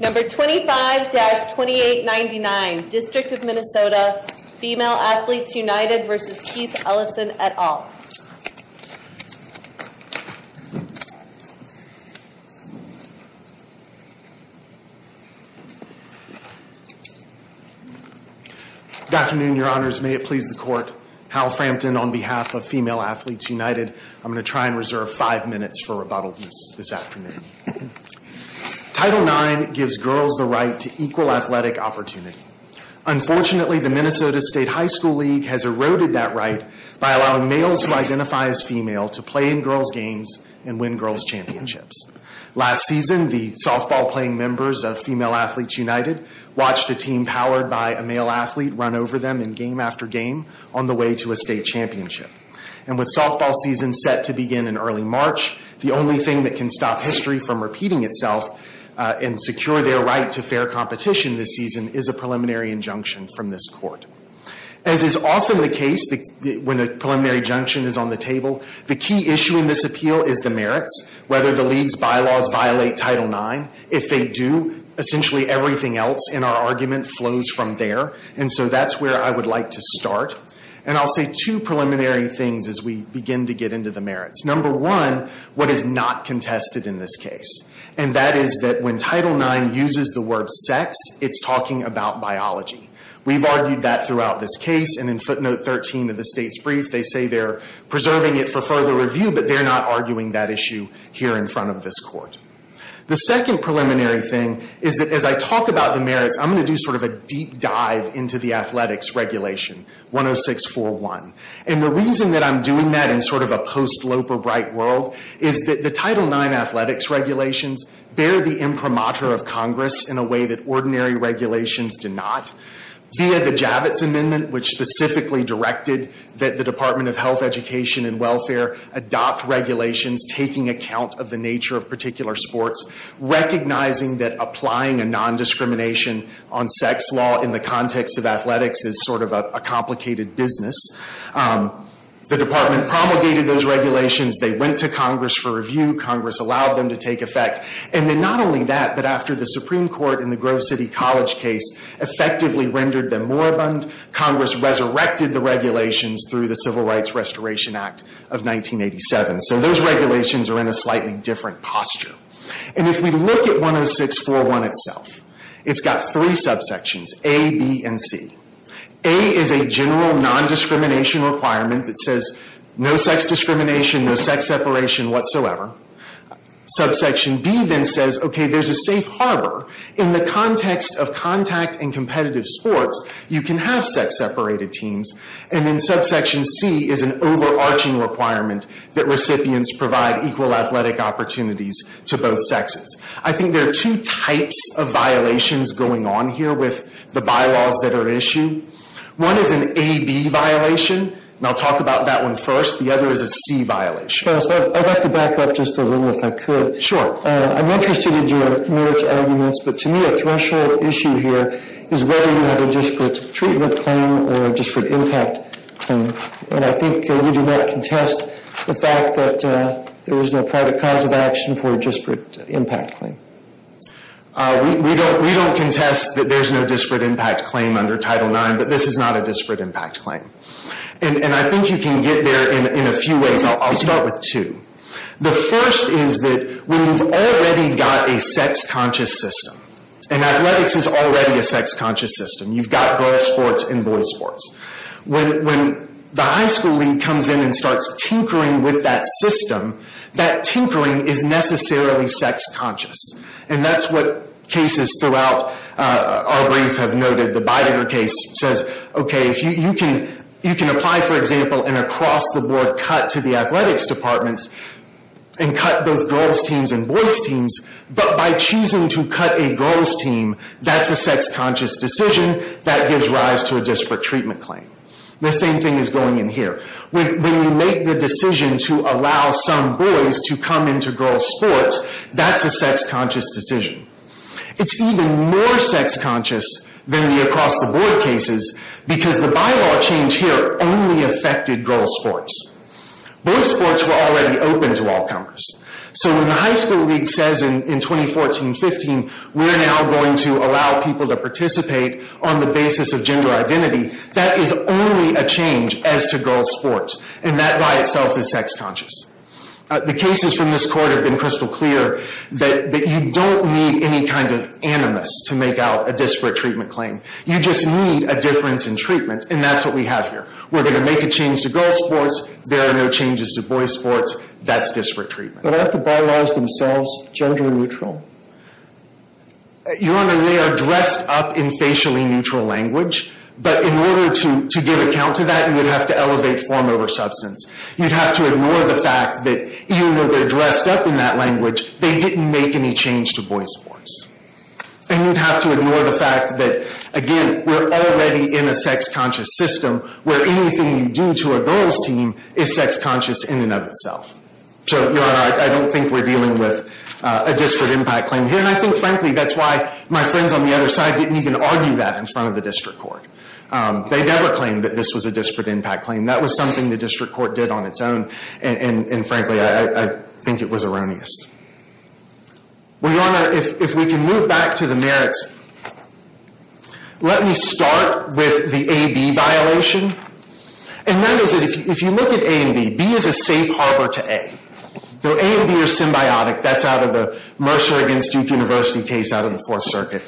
Number 25-2899, District of Minnesota, Female Athletes United v. Keith Ellison et al. Good afternoon, your honors. May it please the court, Hal Frampton on behalf of Female Athletes United. I'm going to try and reserve five minutes for rebuttal this afternoon. Title IX gives girls the right to equal athletic opportunity. Unfortunately, the Minnesota State High School League has eroded that right by allowing males who identify as female to play in girls' games and win girls' championships. Last season, the softball-playing members of Female Athletes United watched a team powered by a male athlete run over them in game after game on the way to a state championship. And with softball season set to begin in early March, the only thing that can stop history from repeating itself and secure their right to fair competition this season is a preliminary injunction from this court. As is often the case when a preliminary injunction is on the table, the key issue in this appeal is the merits, whether the league's bylaws violate Title IX. If they do, essentially everything else in our argument flows from there. And so that's where I would like to start. And I'll say two preliminary things as we begin to get into the merits. Number one, what is not contested in this case, and that is that when Title IX uses the word sex, it's talking about biology. We've argued that throughout this case, and in footnote 13 of the state's brief, they say they're preserving it for further review, but they're not arguing that issue here in front of this court. The second preliminary thing is that as I talk about the merits, I'm going to do sort of a deep dive into the athletics regulation. 10641. And the reason that I'm doing that in sort of a post-Loper Bright world is that the Title IX athletics regulations bear the imprimatur of Congress in a way that ordinary regulations do not. Via the Javits Amendment, which specifically directed that the Department of Health, Education, and Welfare adopt regulations taking account of the nature of particular sports, recognizing that applying a nondiscrimination on sex law in the context of athletics is sort of a complicated business. The Department promulgated those regulations. They went to Congress for review. Congress allowed them to take effect. And then not only that, but after the Supreme Court in the Grove City College case effectively rendered them moribund, Congress resurrected the regulations through the Civil Rights Restoration Act of 1987. So those regulations are in a slightly different posture. And if we look at 10641 itself, it's got three subsections, A, B, and C. A is a general nondiscrimination requirement that says no sex discrimination, no sex separation whatsoever. Subsection B then says, okay, there's a safe harbor. In the context of contact and competitive sports, you can have sex-separated teams. And then subsection C is an overarching requirement that recipients provide equal athletic opportunities to both sexes. I think there are two types of violations going on here with the bylaws that are issued. One is an A-B violation, and I'll talk about that one first. The other is a C violation. I'd like to back up just a little if I could. Sure. I'm interested in your marriage arguments, but to me a threshold issue here is whether you have a disparate treatment claim or a disparate impact claim. And I think you do not contest the fact that there is no private cause of action for a disparate impact claim. We don't contest that there's no disparate impact claim under Title IX, but this is not a disparate impact claim. And I think you can get there in a few ways. I'll start with two. The first is that when you've already got a sex-conscious system, and athletics is already a sex-conscious system. You've got girls' sports and boys' sports. When the high school league comes in and starts tinkering with that system, that tinkering is necessarily sex-conscious. And that's what cases throughout our brief have noted. The Beidinger case says, okay, you can apply, for example, and across the board cut to the athletics departments and cut both girls' teams and boys' teams, but by choosing to cut a girls' team, that's a sex-conscious decision that gives rise to a disparate treatment claim. The same thing is going in here. When you make the decision to allow some boys to come into girls' sports, that's a sex-conscious decision. It's even more sex-conscious than the across-the-board cases because the bylaw change here only affected girls' sports. Boys' sports were already open to all comers. So when the high school league says in 2014-15, we're now going to allow people to participate on the basis of gender identity, that is only a change as to girls' sports, and that by itself is sex-conscious. The cases from this court have been crystal clear that you don't need any kind of animus to make out a disparate treatment claim. You just need a difference in treatment, and that's what we have here. We're going to make a change to girls' sports. There are no changes to boys' sports. That's disparate treatment. But aren't the bylaws themselves gender-neutral? Your Honor, they are dressed up in facially-neutral language, but in order to give account to that, you would have to elevate form over substance. You'd have to ignore the fact that even though they're dressed up in that language, they didn't make any change to boys' sports. And you'd have to ignore the fact that, again, we're already in a sex-conscious system where anything you do to a girls' team is sex-conscious in and of itself. So, Your Honor, I don't think we're dealing with a disparate impact claim here. And I think, frankly, that's why my friends on the other side didn't even argue that in front of the district court. They never claimed that this was a disparate impact claim. That was something the district court did on its own, and, frankly, I think it was erroneous. Well, Your Honor, if we can move back to the merits, let me start with the A-B violation. And that is that if you look at A and B, B is a safe harbor to A. A and B are symbiotic. That's out of the Mercer against Duke University case out of the Fourth Circuit.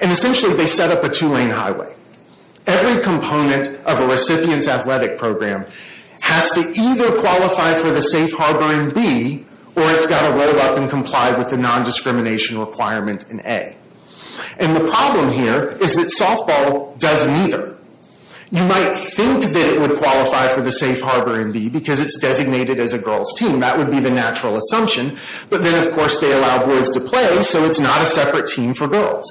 And, essentially, they set up a two-lane highway. Every component of a recipient's athletic program has to either qualify for the safe harbor in B, or it's got to roll up and comply with the nondiscrimination requirement in A. And the problem here is that softball does neither. You might think that it would qualify for the safe harbor in B because it's designated as a girls' team. That would be the natural assumption. But then, of course, they allow boys to play, so it's not a separate team for girls.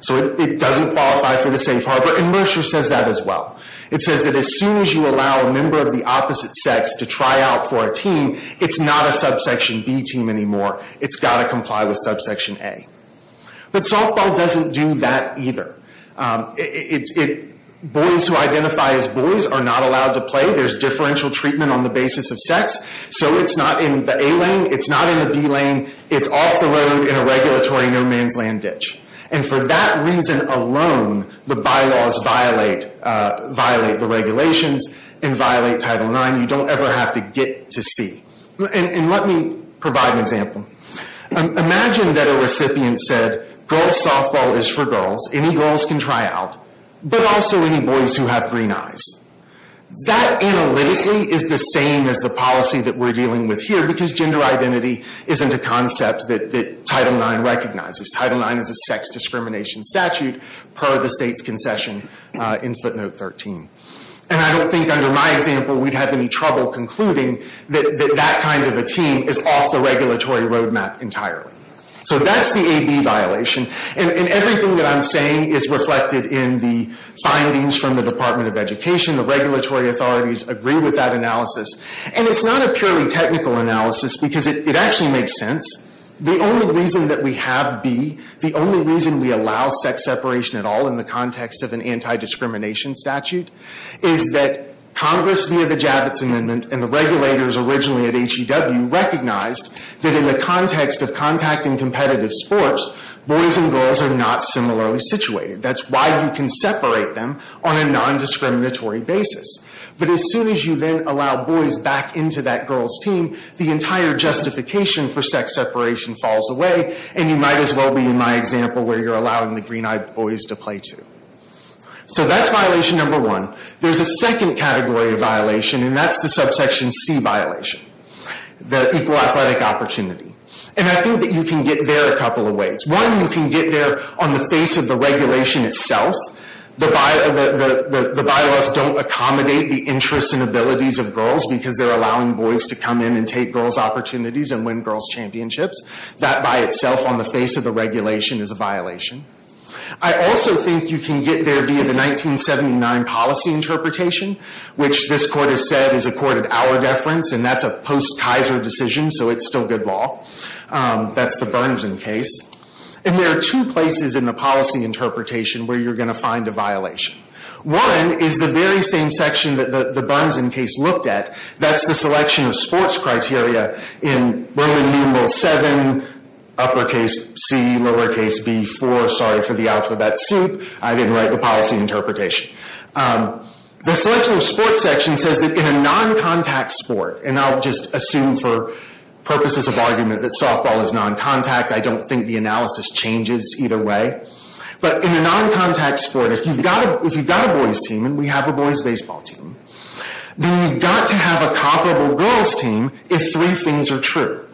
So it doesn't qualify for the safe harbor, and Mercer says that as well. It says that as soon as you allow a member of the opposite sex to try out for a team, it's not a subsection B team anymore. It's got to comply with subsection A. But softball doesn't do that either. Boys who identify as boys are not allowed to play. There's differential treatment on the basis of sex. So it's not in the A lane. It's not in the B lane. It's off the road in a regulatory no-man's-land ditch. And for that reason alone, the bylaws violate the regulations and violate Title IX. You don't ever have to get to see. And let me provide an example. Imagine that a recipient said, Girl's softball is for girls. Any girls can try out. But also any boys who have green eyes. That analytically is the same as the policy that we're dealing with here because gender identity isn't a concept that Title IX recognizes. Title IX is a sex discrimination statute per the state's concession in footnote 13. And I don't think under my example we'd have any trouble concluding that that kind of a team is off the regulatory roadmap entirely. So that's the AB violation. And everything that I'm saying is reflected in the findings from the Department of Education. The regulatory authorities agree with that analysis. And it's not a purely technical analysis because it actually makes sense. The only reason that we have B, the only reason we allow sex separation at all in the context of an anti-discrimination statute, is that Congress, via the Javits Amendment, and the regulators originally at HEW recognized that in the context of contact in competitive sports, boys and girls are not similarly situated. That's why you can separate them on a non-discriminatory basis. But as soon as you then allow boys back into that girls' team, the entire justification for sex separation falls away, and you might as well be in my example where you're allowing the green-eyed boys to play too. So that's violation number one. There's a second category of violation, and that's the subsection C violation. The equal athletic opportunity. And I think that you can get there a couple of ways. One, you can get there on the face of the regulation itself. The bylaws don't accommodate the interests and abilities of girls because they're allowing boys to come in and take girls' opportunities and win girls' championships. That by itself on the face of the regulation is a violation. I also think you can get there via the 1979 policy interpretation, which this court has said is a court-at-hour deference, and that's a post-Kaiser decision, so it's still good law. That's the Burnson case. And there are two places in the policy interpretation where you're going to find a violation. One is the very same section that the Burnson case looked at. That's the selection of sports criteria in Roman numeral 7, uppercase C, lowercase B, 4. Sorry for the alphabet soup. I didn't write the policy interpretation. The selection of sports section says that in a non-contact sport, and I'll just assume for purposes of argument that softball is non-contact. I don't think the analysis changes either way. But in a non-contact sport, if you've got a boys' team, and we have a boys' baseball team, then you've got to have a comparable girls' team if three things are true.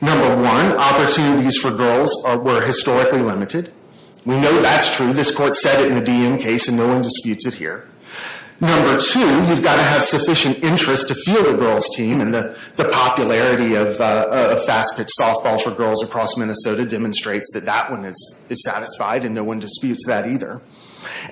Number one, opportunities for girls were historically limited. We know that's true. This court said it in the Diem case, and no one disputes it here. Number two, you've got to have sufficient interest to field a girls' team, and the popularity of fast-pitch softball for girls across Minnesota demonstrates that that one is satisfied, and no one disputes that either.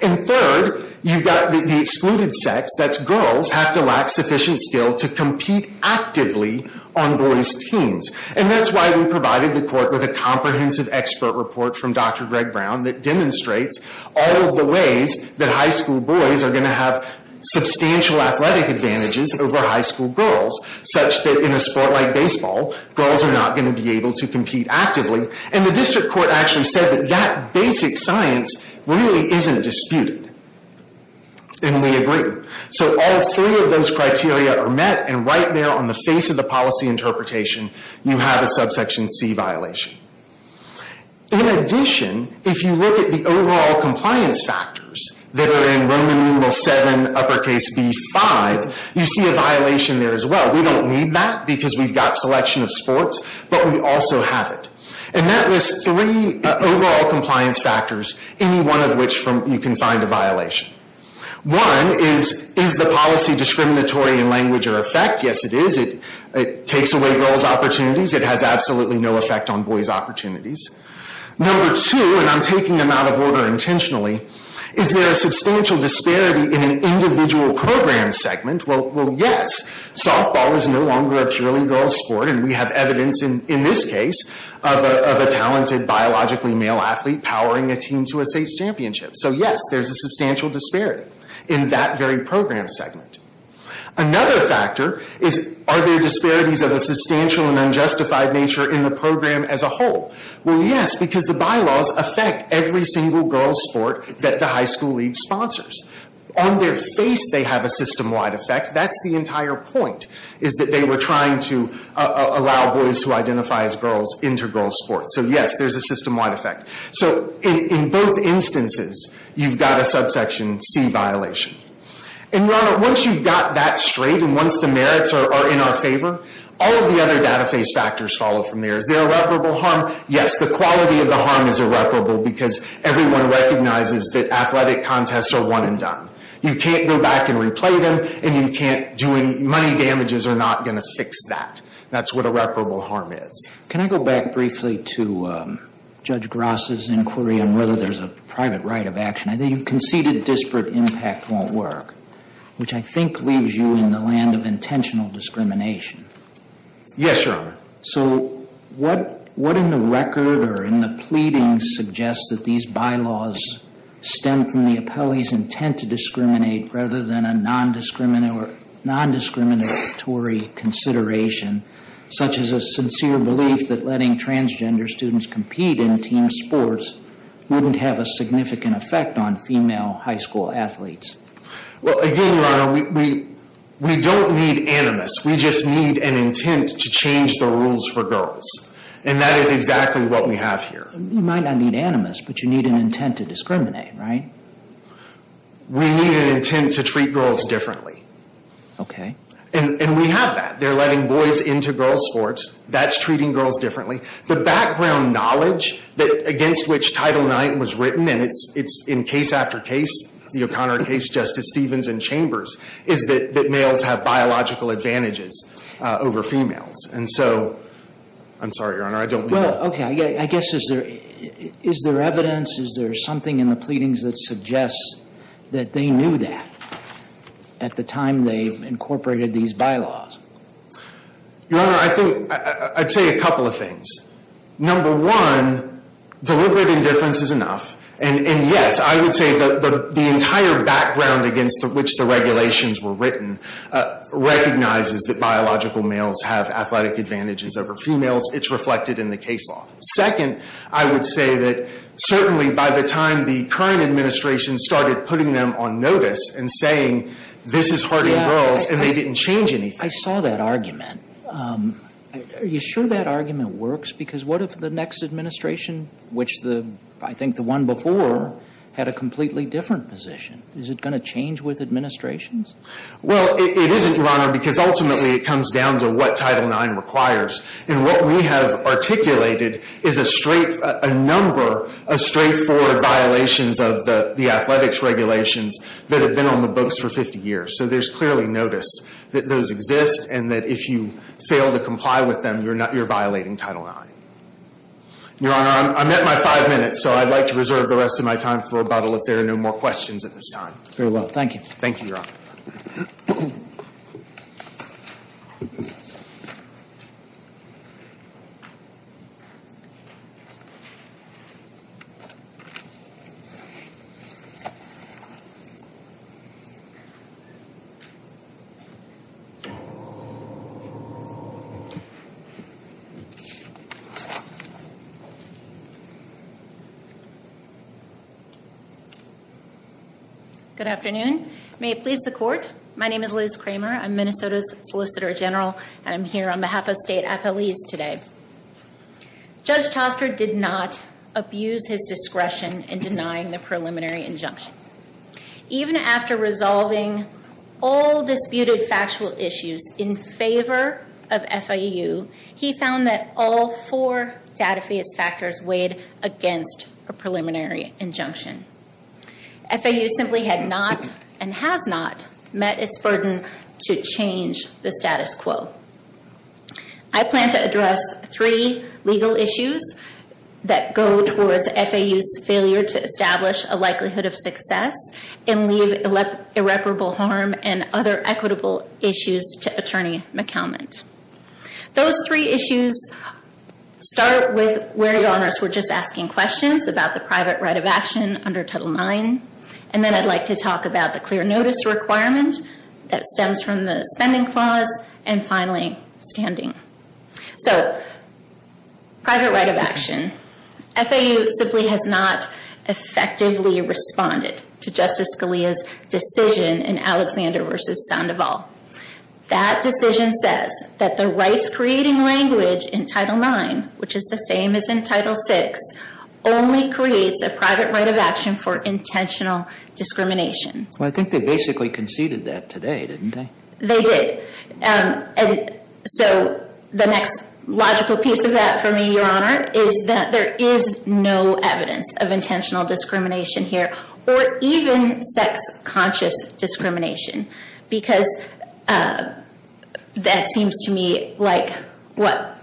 And third, you've got the excluded sex, that's girls, have to lack sufficient skill to compete actively on boys' teams. And that's why we provided the court with a comprehensive expert report from Dr. Greg Brown that demonstrates all of the ways that high school boys are going to have substantial athletic advantages over high school girls, such that in a sport like baseball, girls are not going to be able to compete actively. And the district court actually said that that basic science really isn't disputed. And we agree. So all three of those criteria are met, and right there on the face of the policy interpretation, you have a subsection C violation. In addition, if you look at the overall compliance factors that are in Roman numeral 7, uppercase B, 5, you see a violation there as well. We don't need that because we've got selection of sports, but we also have it. And that lists three overall compliance factors, any one of which you can find a violation. One is, is the policy discriminatory in language or effect? Yes, it is. It takes away girls' opportunities. It has absolutely no effect on boys' opportunities. Number two, and I'm taking them out of order intentionally, is there a substantial disparity in an individual program segment? Well, yes. Softball is no longer a purely girls' sport, and we have evidence in this case of a talented biologically male athlete powering a team to a state championship. So yes, there's a substantial disparity in that very program segment. Another factor is, are there disparities of a substantial and unjustified nature in the program as a whole? Well, yes, because the bylaws affect every single girls' sport that the high school league sponsors. On their face, they have a system-wide effect. That's the entire point, is that they were trying to allow boys who identify as girls into girls' sports. So yes, there's a system-wide effect. So in both instances, you've got a subsection C violation. And, Your Honor, once you've got that straight and once the merits are in our favor, all of the other data face factors follow from there. Is there irreparable harm? Yes. The quality of the harm is irreparable because everyone recognizes that athletic contests are one and done. You can't go back and replay them, and you can't do any money damages are not going to fix that. That's what irreparable harm is. Can I go back briefly to Judge Grass's inquiry on whether there's a private right of action? I think you've conceded disparate impact won't work, which I think leaves you in the land of intentional discrimination. Yes, Your Honor. So what in the record or in the pleadings suggests that these bylaws stem from the appellee's intent to discriminate rather than a nondiscriminatory consideration, such as a sincere belief that letting transgender students compete in team sports wouldn't have a significant effect on female high school athletes? Well, again, Your Honor, we don't need animus. We just need an intent to change the rules for girls, and that is exactly what we have here. You might not need animus, but you need an intent to discriminate, right? We need an intent to treat girls differently. Okay. And we have that. They're letting boys into girls' sports. That's treating girls differently. The background knowledge against which Title IX was written, and it's in case after case, the O'Connor case, Justice Stevens and Chambers, is that males have biological advantages over females. And so I'm sorry, Your Honor, I don't need that. Well, okay. I guess is there evidence, is there something in the pleadings that suggests that they knew that at the time they incorporated these bylaws? Your Honor, I think I'd say a couple of things. Number one, deliberate indifference is enough. And, yes, I would say the entire background against which the regulations were written recognizes that biological males have athletic advantages over females. It's reflected in the case law. Second, I would say that certainly by the time the current administration started putting them on notice and saying, this is hard on girls, and they didn't change anything. I saw that argument. Are you sure that argument works? Because what if the next administration, which I think the one before, had a completely different position? Is it going to change with administrations? Well, it isn't, Your Honor, because ultimately it comes down to what Title IX requires. And what we have articulated is a number of straightforward violations of the athletics regulations that have been on the books for 50 years. So there's clearly notice that those exist and that if you fail to comply with them, you're violating Title IX. Your Honor, I'm at my five minutes, so I'd like to reserve the rest of my time for rebuttal if there are no more questions at this time. Very well, thank you. Thank you, Your Honor. Thank you. Good afternoon. May it please the court. My name is Liz Kramer. I'm Minnesota's Solicitor General, and I'm here on behalf of state appellees today. Judge Toster did not abuse his discretion in denying the preliminary injunction. Even after resolving all disputed factual issues in favor of FIU, he found that all four data-based factors weighed against a preliminary injunction. FIU simply had not, and has not, met its burden to change the status quo. I plan to address three legal issues that go towards FIU's failure to establish a likelihood of success, and leave irreparable harm and other equitable issues to Attorney McKelmont. Those three issues start with where Your Honors were just asking questions about the private right of action under Title IX, and then I'd like to talk about the clear notice requirement that stems from the spending clause, and finally, standing. So, private right of action. FIU simply has not effectively responded to Justice Scalia's decision in Alexander v. Sandoval. That decision says that the rights-creating language in Title IX, which is the same as in Title VI, only creates a private right of action for intentional discrimination. Well, I think they basically conceded that today, didn't they? They did. And so, the next logical piece of that for me, Your Honor, is that there is no evidence of intentional discrimination here, or even sex-conscious discrimination, because that seems to me like what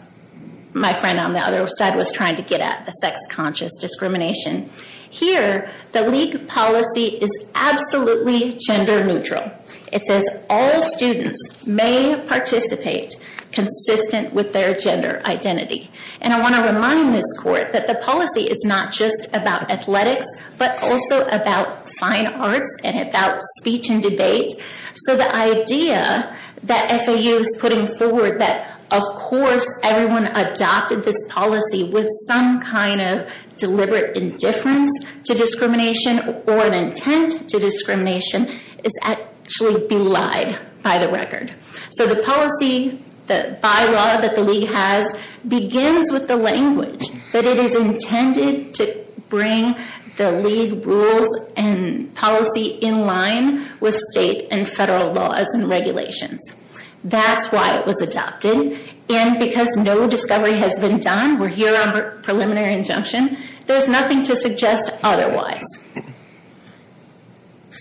my friend on the other side was trying to get at, the sex-conscious discrimination. Here, the league policy is absolutely gender-neutral. It says all students may participate consistent with their gender identity. And I want to remind this Court that the policy is not just about athletics, but also about fine arts and about speech and debate. So, the idea that FIU is putting forward that, of course, everyone adopted this policy with some kind of deliberate indifference to discrimination, or an intent to discrimination, is actually belied by the record. So, the policy, the bylaw that the league has, begins with the language that it is intended to bring the league rules and policy in line with state and federal laws and regulations. That's why it was adopted. And because no discovery has been done, we're here on preliminary injunction, there's nothing to suggest otherwise.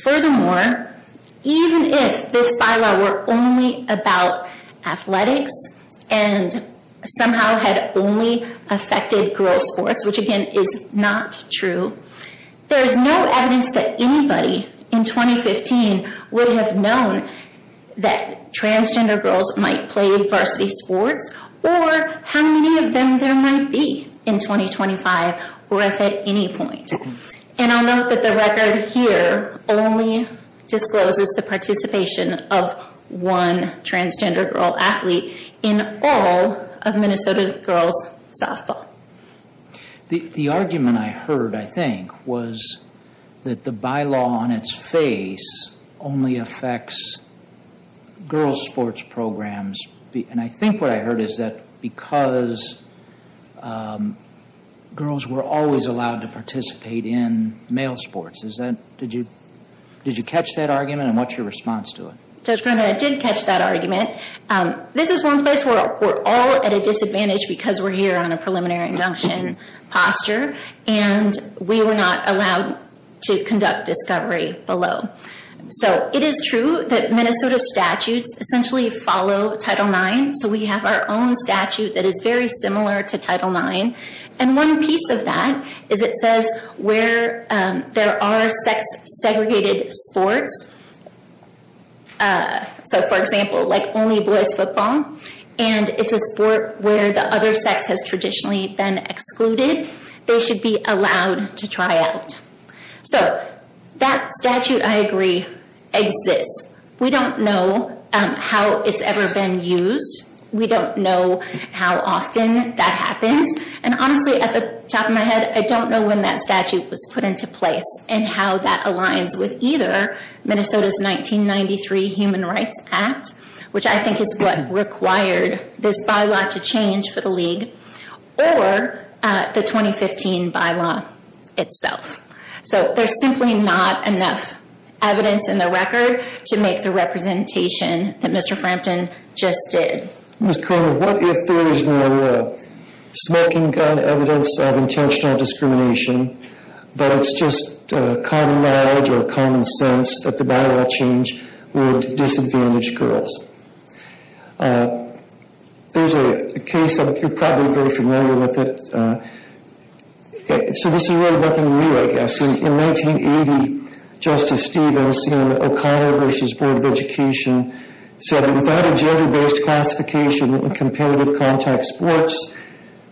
Furthermore, even if this bylaw were only about athletics and somehow had only affected girls' sports, which, again, is not true, there's no evidence that anybody in 2015 would have known that transgender girls might play varsity sports, or how many of them there might be in 2025, or if at any point. And I'll note that the record here only discloses the participation of one transgender girl athlete in all of Minnesota girls' softball. The argument I heard, I think, was that the bylaw on its face only affects girls' sports programs. And I think what I heard is that because girls were always allowed to participate in male sports. Did you catch that argument, and what's your response to it? Judge Grundy, I did catch that argument. This is one place where we're all at a disadvantage because we're here on a preliminary injunction posture, and we were not allowed to conduct discovery below. So it is true that Minnesota statutes essentially follow Title IX. So we have our own statute that is very similar to Title IX. And one piece of that is it says where there are sex-segregated sports, so for example, like only boys' football, and it's a sport where the other sex has traditionally been excluded, they should be allowed to try out. So that statute, I agree, exists. We don't know how it's ever been used. We don't know how often that happens. And honestly, at the top of my head, I don't know when that statute was put into place and how that aligns with either Minnesota's 1993 Human Rights Act, which I think is what required this bylaw to change for the league, or the 2015 bylaw itself. So there's simply not enough evidence in the record to make the representation that Mr. Frampton just did. Ms. Kramer, what if there is no smoking gun evidence of intentional discrimination, but it's just common knowledge or common sense that the bylaw change would disadvantage girls? There's a case, you're probably very familiar with it. So this is really nothing new, I guess. In 1980, Justice Stevens in O'Connor v. Board of Education said that without a gender-based classification in competitive contact sports,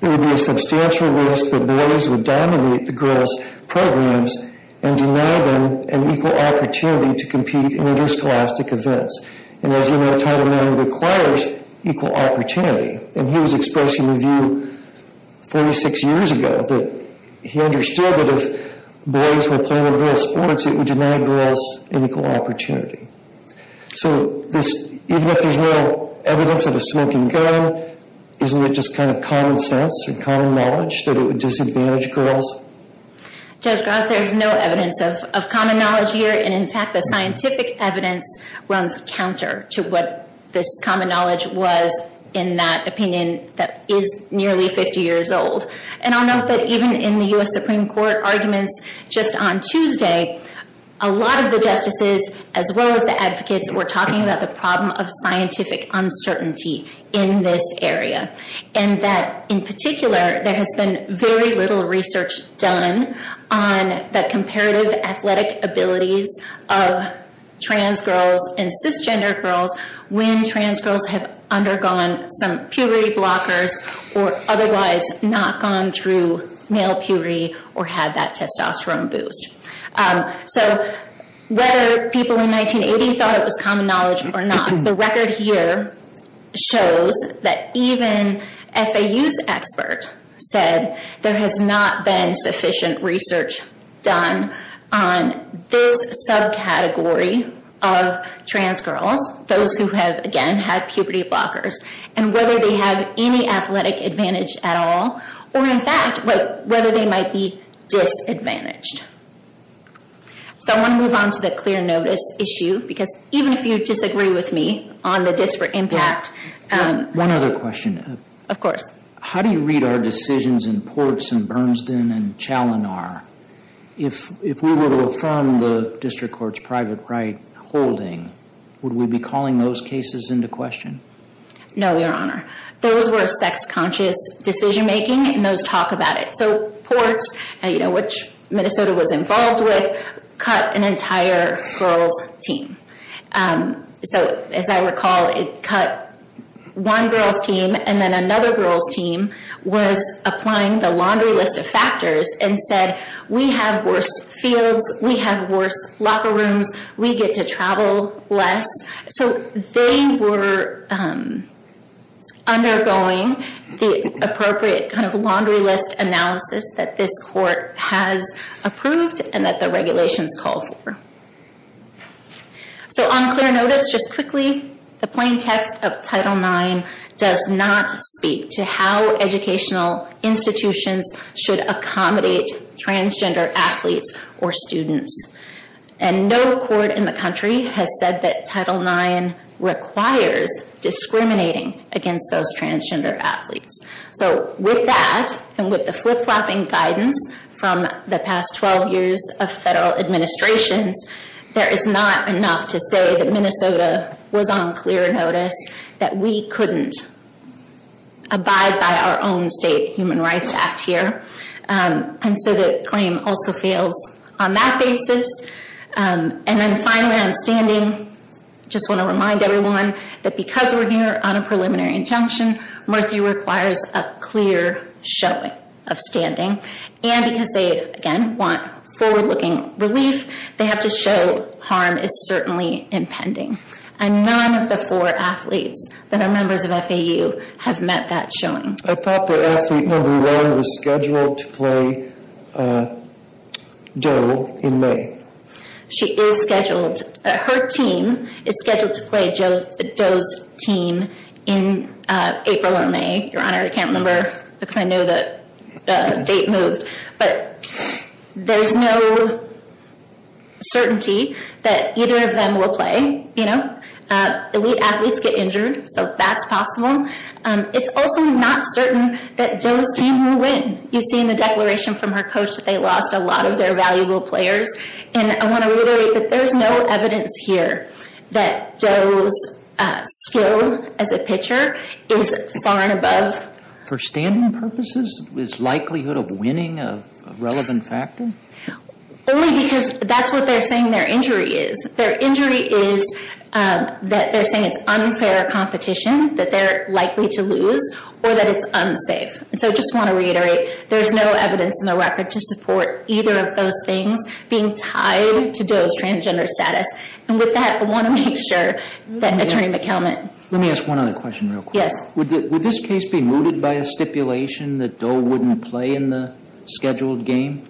there would be a substantial risk that boys would dominate the girls' programs and deny them an equal opportunity to compete in interscholastic events. And as you know, Title IX requires equal opportunity. And he was expressing the view 46 years ago that he understood that if boys were playing a girl's sports, it would deny girls an equal opportunity. So even if there's no evidence of a smoking gun, isn't it just kind of common sense or common knowledge that it would disadvantage girls? Judge Gross, there's no evidence of common knowledge here, and in fact the scientific evidence runs counter to what this common knowledge was in that opinion that is nearly 50 years old. And I'll note that even in the U.S. Supreme Court arguments just on Tuesday, a lot of the justices as well as the advocates were talking about the problem of scientific uncertainty in this area. And that in particular, there has been very little research done on the comparative athletic abilities of trans girls and cisgender girls when trans girls have undergone some puberty blockers or otherwise not gone through male puberty or had that testosterone boost. So whether people in 1980 thought it was common knowledge or not, the record here shows that even FAU's expert said there has not been sufficient research done on this subcategory of trans girls, those who have, again, had puberty blockers, and whether they have any athletic advantage at all or in fact whether they might be disadvantaged. So I want to move on to the clear notice issue because even if you disagree with me on the disparate impact... One other question. Of course. How do you read our decisions in Ports and Bernsden and Chalinar? If we were to affirm the district court's private right holding, would we be calling those cases into question? No, Your Honor. Those were sex conscious decision making and those talk about it. So Ports, which Minnesota was involved with, cut an entire girls team. So as I recall, it cut one girls team and then another girls team was applying the laundry list of factors and said, we have worse fields, we have worse locker rooms, we get to travel less. So they were undergoing the appropriate kind of laundry list analysis that this court has approved and that the regulations call for. So on clear notice, just quickly, the plain text of Title IX does not speak to how educational institutions should accommodate transgender athletes or students. And no court in the country has said that Title IX requires discriminating against those transgender athletes. So with that and with the flip-flopping guidance from the past 12 years of federal administrations, there is not enough to say that Minnesota was on clear notice that we couldn't abide by our own state human rights act here. And so the claim also fails on that basis. And then finally on standing, just want to remind everyone that because we're here on a preliminary injunction, Murthy requires a clear showing of standing. And because they, again, want forward-looking relief, they have to show harm is certainly impending. And none of the four athletes that are members of FAU have met that showing. I thought that athlete number one was scheduled to play DOE in May. She is scheduled. Her team is scheduled to play DOE's team in April or May, Your Honor. I can't remember because I know the date moved. But there's no certainty that either of them will play. Elite athletes get injured, so that's possible. It's also not certain that DOE's team will win. You've seen the declaration from her coach that they lost a lot of their valuable players. And I want to reiterate that there's no evidence here that DOE's skill as a pitcher is far and above. For standing purposes, is likelihood of winning a relevant factor? Only because that's what they're saying their injury is. Their injury is that they're saying it's unfair competition, that they're likely to lose, or that it's unsafe. And so I just want to reiterate, there's no evidence in the record to support either of those things being tied to DOE's transgender status. And with that, I want to make sure that Attorney McKelvin. Let me ask one other question real quick. Yes. Would this case be mooted by a stipulation that DOE wouldn't play in the scheduled game?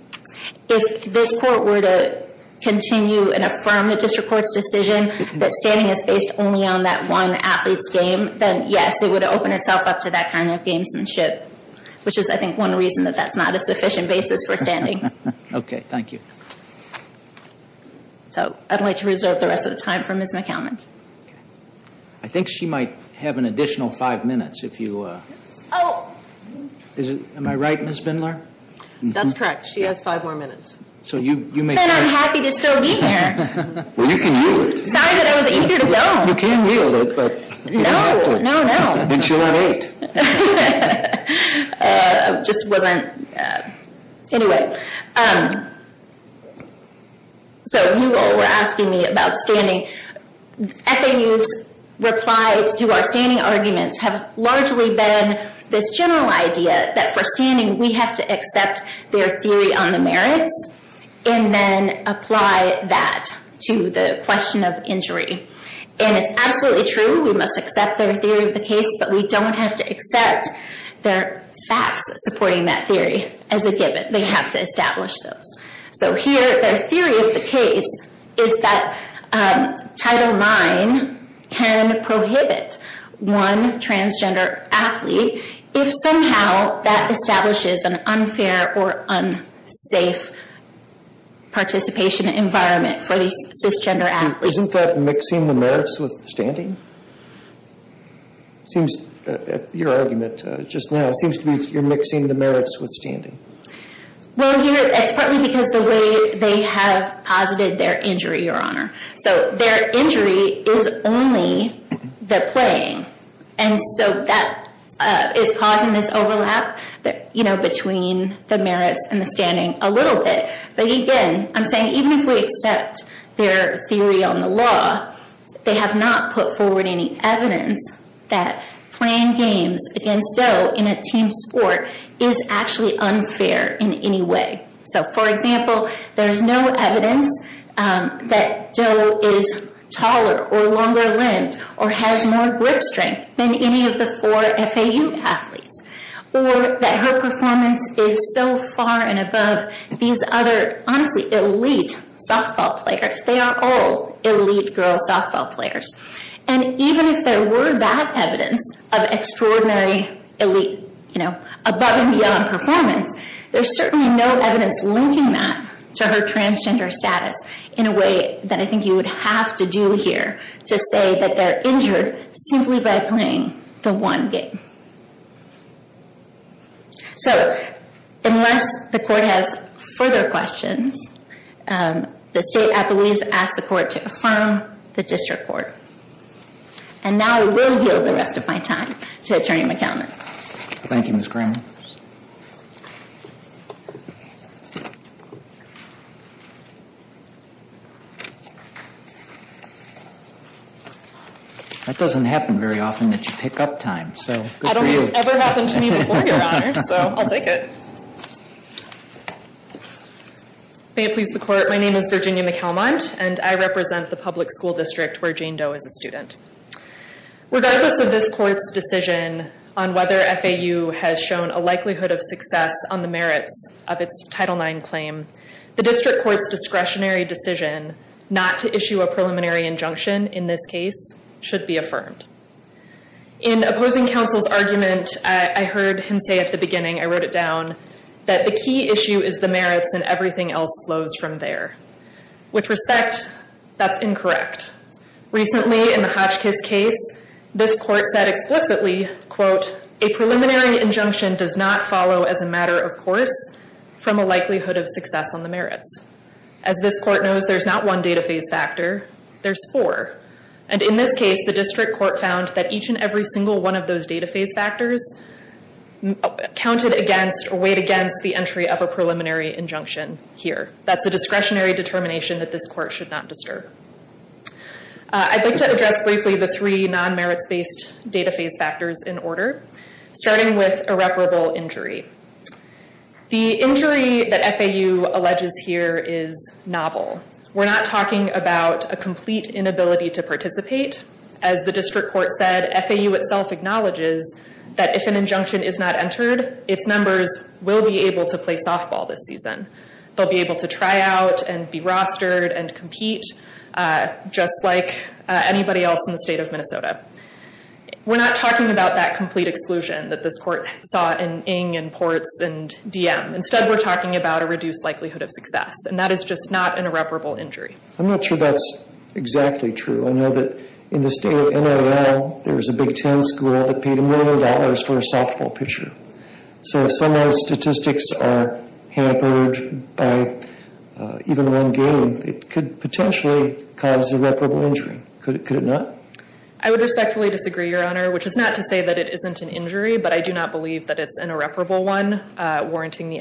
If this court were to continue and affirm the district court's decision that standing is based only on that one athlete's game, then yes, it would open itself up to that kind of gamesmanship. Which is, I think, one reason that that's not a sufficient basis for standing. Okay, thank you. So I'd like to reserve the rest of the time for Ms. McKelvin. I think she might have an additional five minutes if you... Oh. Am I right, Ms. Bindler? That's correct. She has five more minutes. So you may... Then I'm happy to still be here. Well, you can yield it. Sorry that I was eager to go. You can yield it, but you don't have to. No, no, no. Then she'll have eight. Just wasn't... Anyway. So you all were asking me about standing. FAU's replies to our standing arguments have largely been this general idea that for standing we have to accept their theory on the merits and then apply that to the question of injury. And it's absolutely true, we must accept their theory of the case, but we don't have to accept their facts supporting that theory as a given. They have to establish those. So here their theory of the case is that Title IX can prohibit one transgender athlete if somehow that establishes an unfair or unsafe participation environment for these cisgender athletes. Isn't that mixing the merits with standing? It seems, your argument just now, it seems to me you're mixing the merits with standing. Well, it's partly because the way they have posited their injury, your honor. So their injury is only the playing. And so that is causing this overlap between the merits and the standing a little bit. But again, I'm saying even if we accept their theory on the law, they have not put forward any evidence that playing games against Doe in a team sport is actually unfair in any way. So, for example, there's no evidence that Doe is taller or longer limbed or has more grip strength than any of the four FAU athletes. Or that her performance is so far and above these other, honestly, elite softball players. They are all elite girls softball players. And even if there were that evidence of extraordinary elite, you know, above and beyond performance, there's certainly no evidence linking that to her transgender status in a way that I think you would have to do here to say that they're injured simply by playing the one game. So, unless the court has further questions, the state, I believe, has asked the court to affirm the district court. And now I will yield the rest of my time to Attorney McAllen. Thank you, Ms. Cranmer. That doesn't happen very often that you pick up time, so good for you. I don't think it's ever happened to me before, Your Honor, so I'll take it. May it please the court, my name is Virginia McAlmont, and I represent the public school district where Jane Doe is a student. Regardless of this court's decision on whether FAU has shown a likelihood of success on the merits of its Title IX claim, the district court's discretionary decision not to issue a preliminary injunction in this case should be affirmed. In opposing counsel's argument, I heard him say at the beginning, I wrote it down, that the key issue is the merits and everything else flows from there. With respect, that's incorrect. Recently, in the Hotchkiss case, this court said explicitly, quote, a preliminary injunction does not follow as a matter of course from a likelihood of success on the merits. As this court knows, there's not one data phase factor, there's four. And in this case, the district court found that each and every single one of those data phase factors counted against or weighed against the entry of a preliminary injunction here. That's a discretionary determination that this court should not disturb. I'd like to address briefly the three non-merits-based data phase factors in order, starting with irreparable injury. The injury that FAU alleges here is novel. We're not talking about a complete inability to participate. As the district court said, FAU itself acknowledges that if an injunction is not entered, its members will be able to play softball this season. They'll be able to try out and be rostered and compete, just like anybody else in the state of Minnesota. We're not talking about that complete exclusion that this court saw in Ng and Ports and DM. Instead, we're talking about a reduced likelihood of success, and that is just not an irreparable injury. I'm not sure that's exactly true. I know that in the state of NAL, there was a Big Ten school that paid a million dollars for a softball pitcher. So if some of those statistics are hampered by even one game, it could potentially cause irreparable injury. Could it not? I would respectfully disagree, Your Honor, which is not to say that it isn't an injury, but I do not believe that it's an irreparable one, warranting the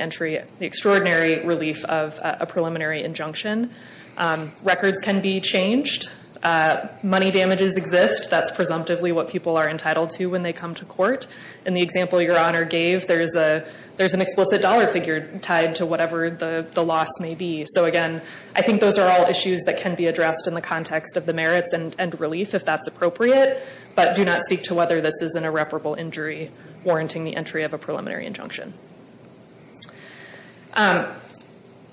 extraordinary relief of a preliminary injunction. Records can be changed. Money damages exist. That's presumptively what people are entitled to when they come to court. In the example Your Honor gave, there's an explicit dollar figure tied to whatever the loss may be. So, again, I think those are all issues that can be addressed in the context of the merits and relief, if that's appropriate, but do not speak to whether this is an irreparable injury warranting the entry of a preliminary injunction.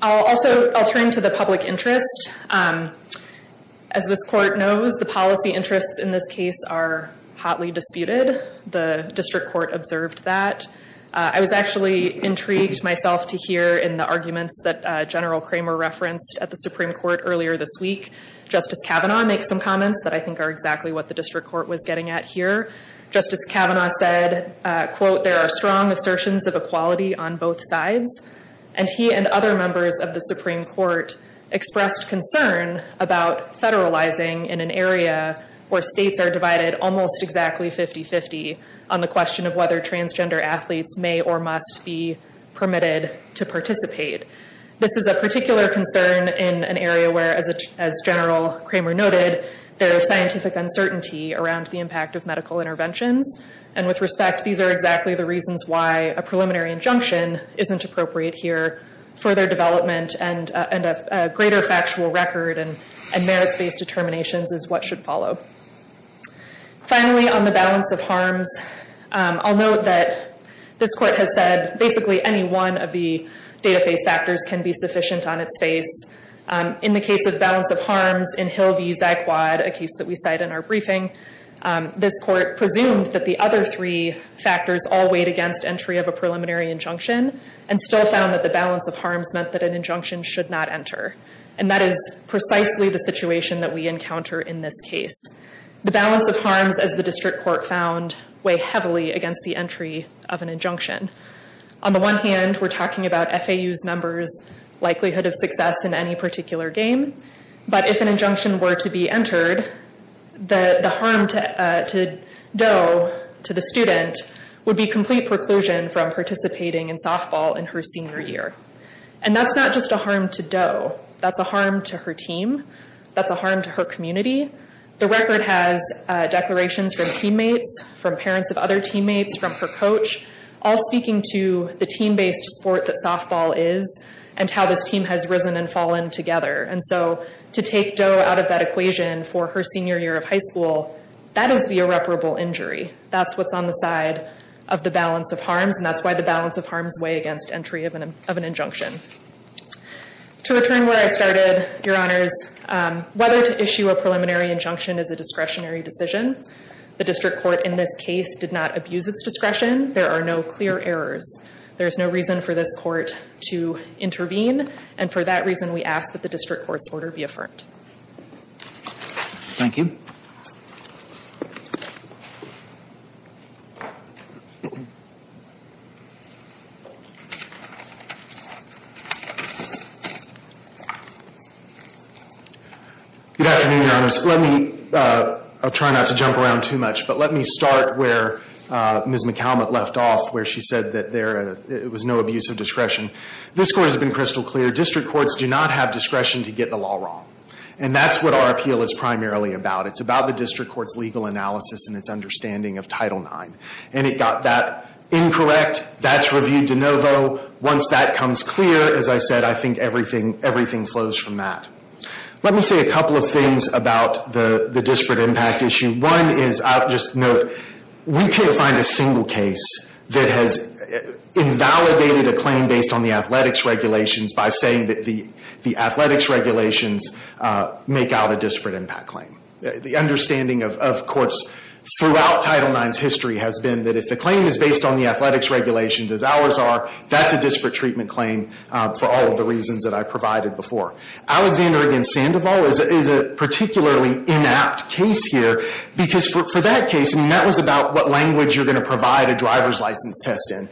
Also, I'll turn to the public interest. As this court knows, the policy interests in this case are hotly disputed. The district court observed that. I was actually intrigued myself to hear in the arguments that General Kramer referenced at the Supreme Court earlier this week. Justice Kavanaugh makes some comments that I think are exactly what the district court was getting at here. Justice Kavanaugh said, quote, there are strong assertions of equality on both sides, and he and other members of the Supreme Court expressed concern about federalizing in an area where states are divided almost exactly 50-50 on the question of whether transgender athletes may or must be permitted to participate. This is a particular concern in an area where, as General Kramer noted, there is scientific uncertainty around the impact of medical interventions, and with respect, these are exactly the reasons why a preliminary injunction isn't appropriate here. Further development and a greater factual record and merits-based determinations is what should follow. Finally, on the balance of harms, I'll note that this court has said basically any one of the data-based factors can be sufficient on its face. In the case of balance of harms in Hill v. Zagwad, a case that we cite in our briefing, this court presumed that the other three factors all weighed against entry of a preliminary injunction and still found that the balance of harms meant that an injunction should not enter, and that is precisely the situation that we encounter in this case. The balance of harms, as the district court found, weigh heavily against the entry of an injunction. On the one hand, we're talking about FAU's members' likelihood of success in any particular game, but if an injunction were to be entered, the harm to Doe, to the student, would be complete preclusion from participating in softball in her senior year. That's not just a harm to Doe. That's a harm to her team. That's a harm to her community. The record has declarations from teammates, from parents of other teammates, from her coach, all speaking to the team-based sport that softball is and how this team has risen and fallen together. And so to take Doe out of that equation for her senior year of high school, that is the irreparable injury. That's what's on the side of the balance of harms, and that's why the balance of harms weigh against entry of an injunction. To return where I started, Your Honors, whether to issue a preliminary injunction is a discretionary decision. The district court in this case did not abuse its discretion. There are no clear errors. There is no reason for this court to intervene, and for that reason we ask that the district court's order be affirmed. Thank you. Good afternoon, Your Honors. Let me, I'll try not to jump around too much, but let me start where Ms. McCallum left off, where she said that there was no abuse of discretion. This court has been crystal clear. District courts do not have discretion to get the law wrong, and that's what our appeal is primarily about. It's about the district court's legal analysis and its understanding of Title IX. And it got that incorrect. That's reviewed de novo. Once that comes clear, as I said, I think everything flows from that. Let me say a couple of things about the disparate impact issue. One is, I'll just note, we can't find a single case that has invalidated a claim based on the athletics regulations by saying that the athletics regulations make out a disparate impact claim. The understanding of courts throughout Title IX's history has been that if the claim is based on the athletics regulations as ours are, that's a disparate treatment claim for all of the reasons that I provided before. Alexander v. Sandoval is a particularly inapt case here, because for that case, that was about what language you're going to provide a driver's license test in.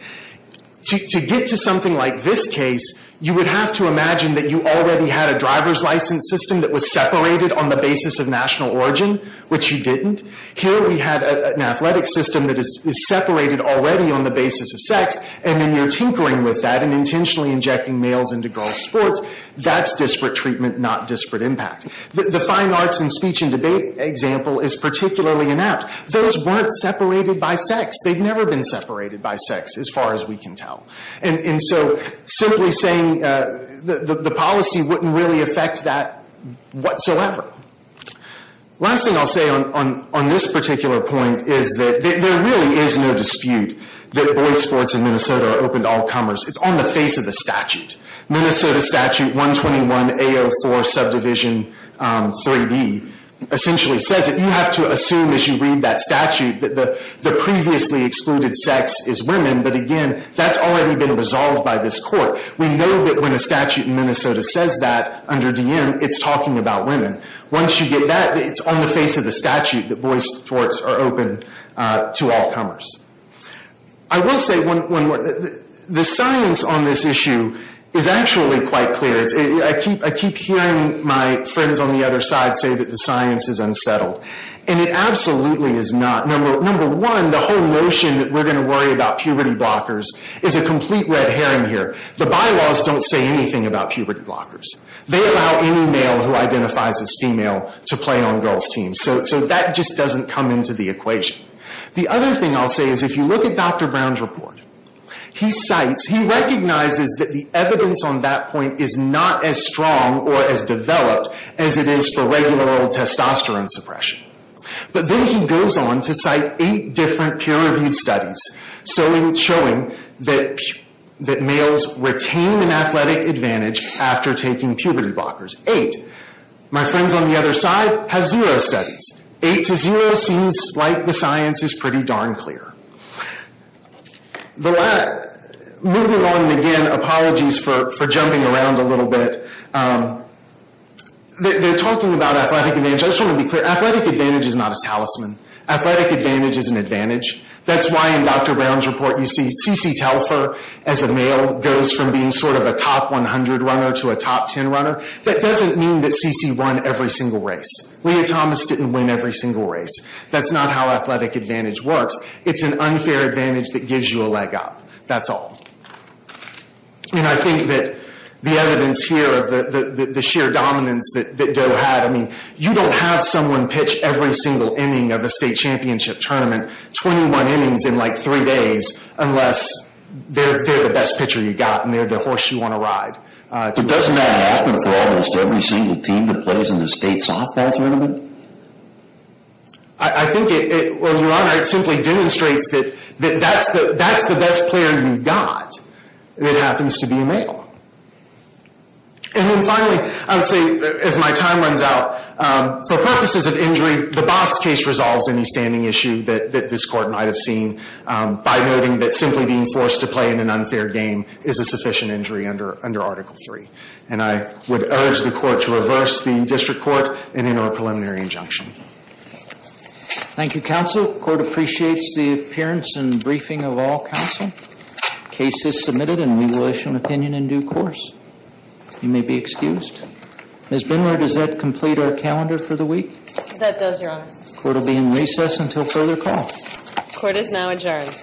To get to something like this case, you would have to imagine that you already had a driver's license system that was separated on the basis of national origin, which you didn't. Here we had an athletic system that is separated already on the basis of sex, and then you're tinkering with that and intentionally injecting males into girls' sports. That's disparate treatment, not disparate impact. The fine arts and speech and debate example is particularly inapt. Those weren't separated by sex. They've never been separated by sex, as far as we can tell. Simply saying the policy wouldn't really affect that whatsoever. Last thing I'll say on this particular point is that there really is no dispute that boys' sports in Minnesota are open to all comers. It's on the face of the statute. Minnesota Statute 121A04 Subdivision 3D essentially says it. You have to assume, as you read that statute, that the previously excluded sex is women, but again, that's already been resolved by this court. We know that when a statute in Minnesota says that under DM, it's talking about women. Once you get that, it's on the face of the statute that boys' sports are open to all comers. I will say one more thing. The science on this issue is actually quite clear. I keep hearing my friends on the other side say that the science is unsettled, and it absolutely is not. Number one, the whole notion that we're going to worry about puberty blockers is a complete red herring here. The bylaws don't say anything about puberty blockers. They allow any male who identifies as female to play on girls' teams. That just doesn't come into the equation. The other thing I'll say is if you look at Dr. Brown's report, he cites, he recognizes that the evidence on that point is not as strong or as developed as it is for regular old testosterone suppression. But then he goes on to cite eight different peer-reviewed studies, showing that males retain an athletic advantage after taking puberty blockers. Eight. My friends on the other side have zero studies. Eight to zero seems like the science is pretty darn clear. Moving on again, apologies for jumping around a little bit. They're talking about athletic advantage. I just want to be clear. Athletic advantage is not a talisman. Athletic advantage is an advantage. That's why in Dr. Brown's report you see C.C. Telfer as a male goes from being sort of a top 100 runner to a top 10 runner. That doesn't mean that C.C. won every single race. Leah Thomas didn't win every single race. That's not how athletic advantage works. It's an unfair advantage that gives you a leg up. That's all. And I think that the evidence here of the sheer dominance that Doe had, I mean, you don't have someone pitch every single inning of a state championship tournament, 21 innings in like three days, unless they're the best pitcher you've got and they're the horse you want to ride. But doesn't that happen for almost every single team that plays in the state softball tournament? I think it, well, Your Honor, it simply demonstrates that that's the best player you've got. It happens to be a male. And then finally, I would say, as my time runs out, for purposes of injury, the Bost case resolves any standing issue that this court might have seen by noting that simply being forced to play in an unfair game is a sufficient injury under Article III. And I would urge the court to reverse the district court and enter a preliminary injunction. Thank you, counsel. The court appreciates the appearance and briefing of all counsel. The case is submitted and we will issue an opinion in due course. You may be excused. Ms. Bindler, does that complete our calendar for the week? That does, Your Honor. The court will be in recess until further call. Court is now adjourned.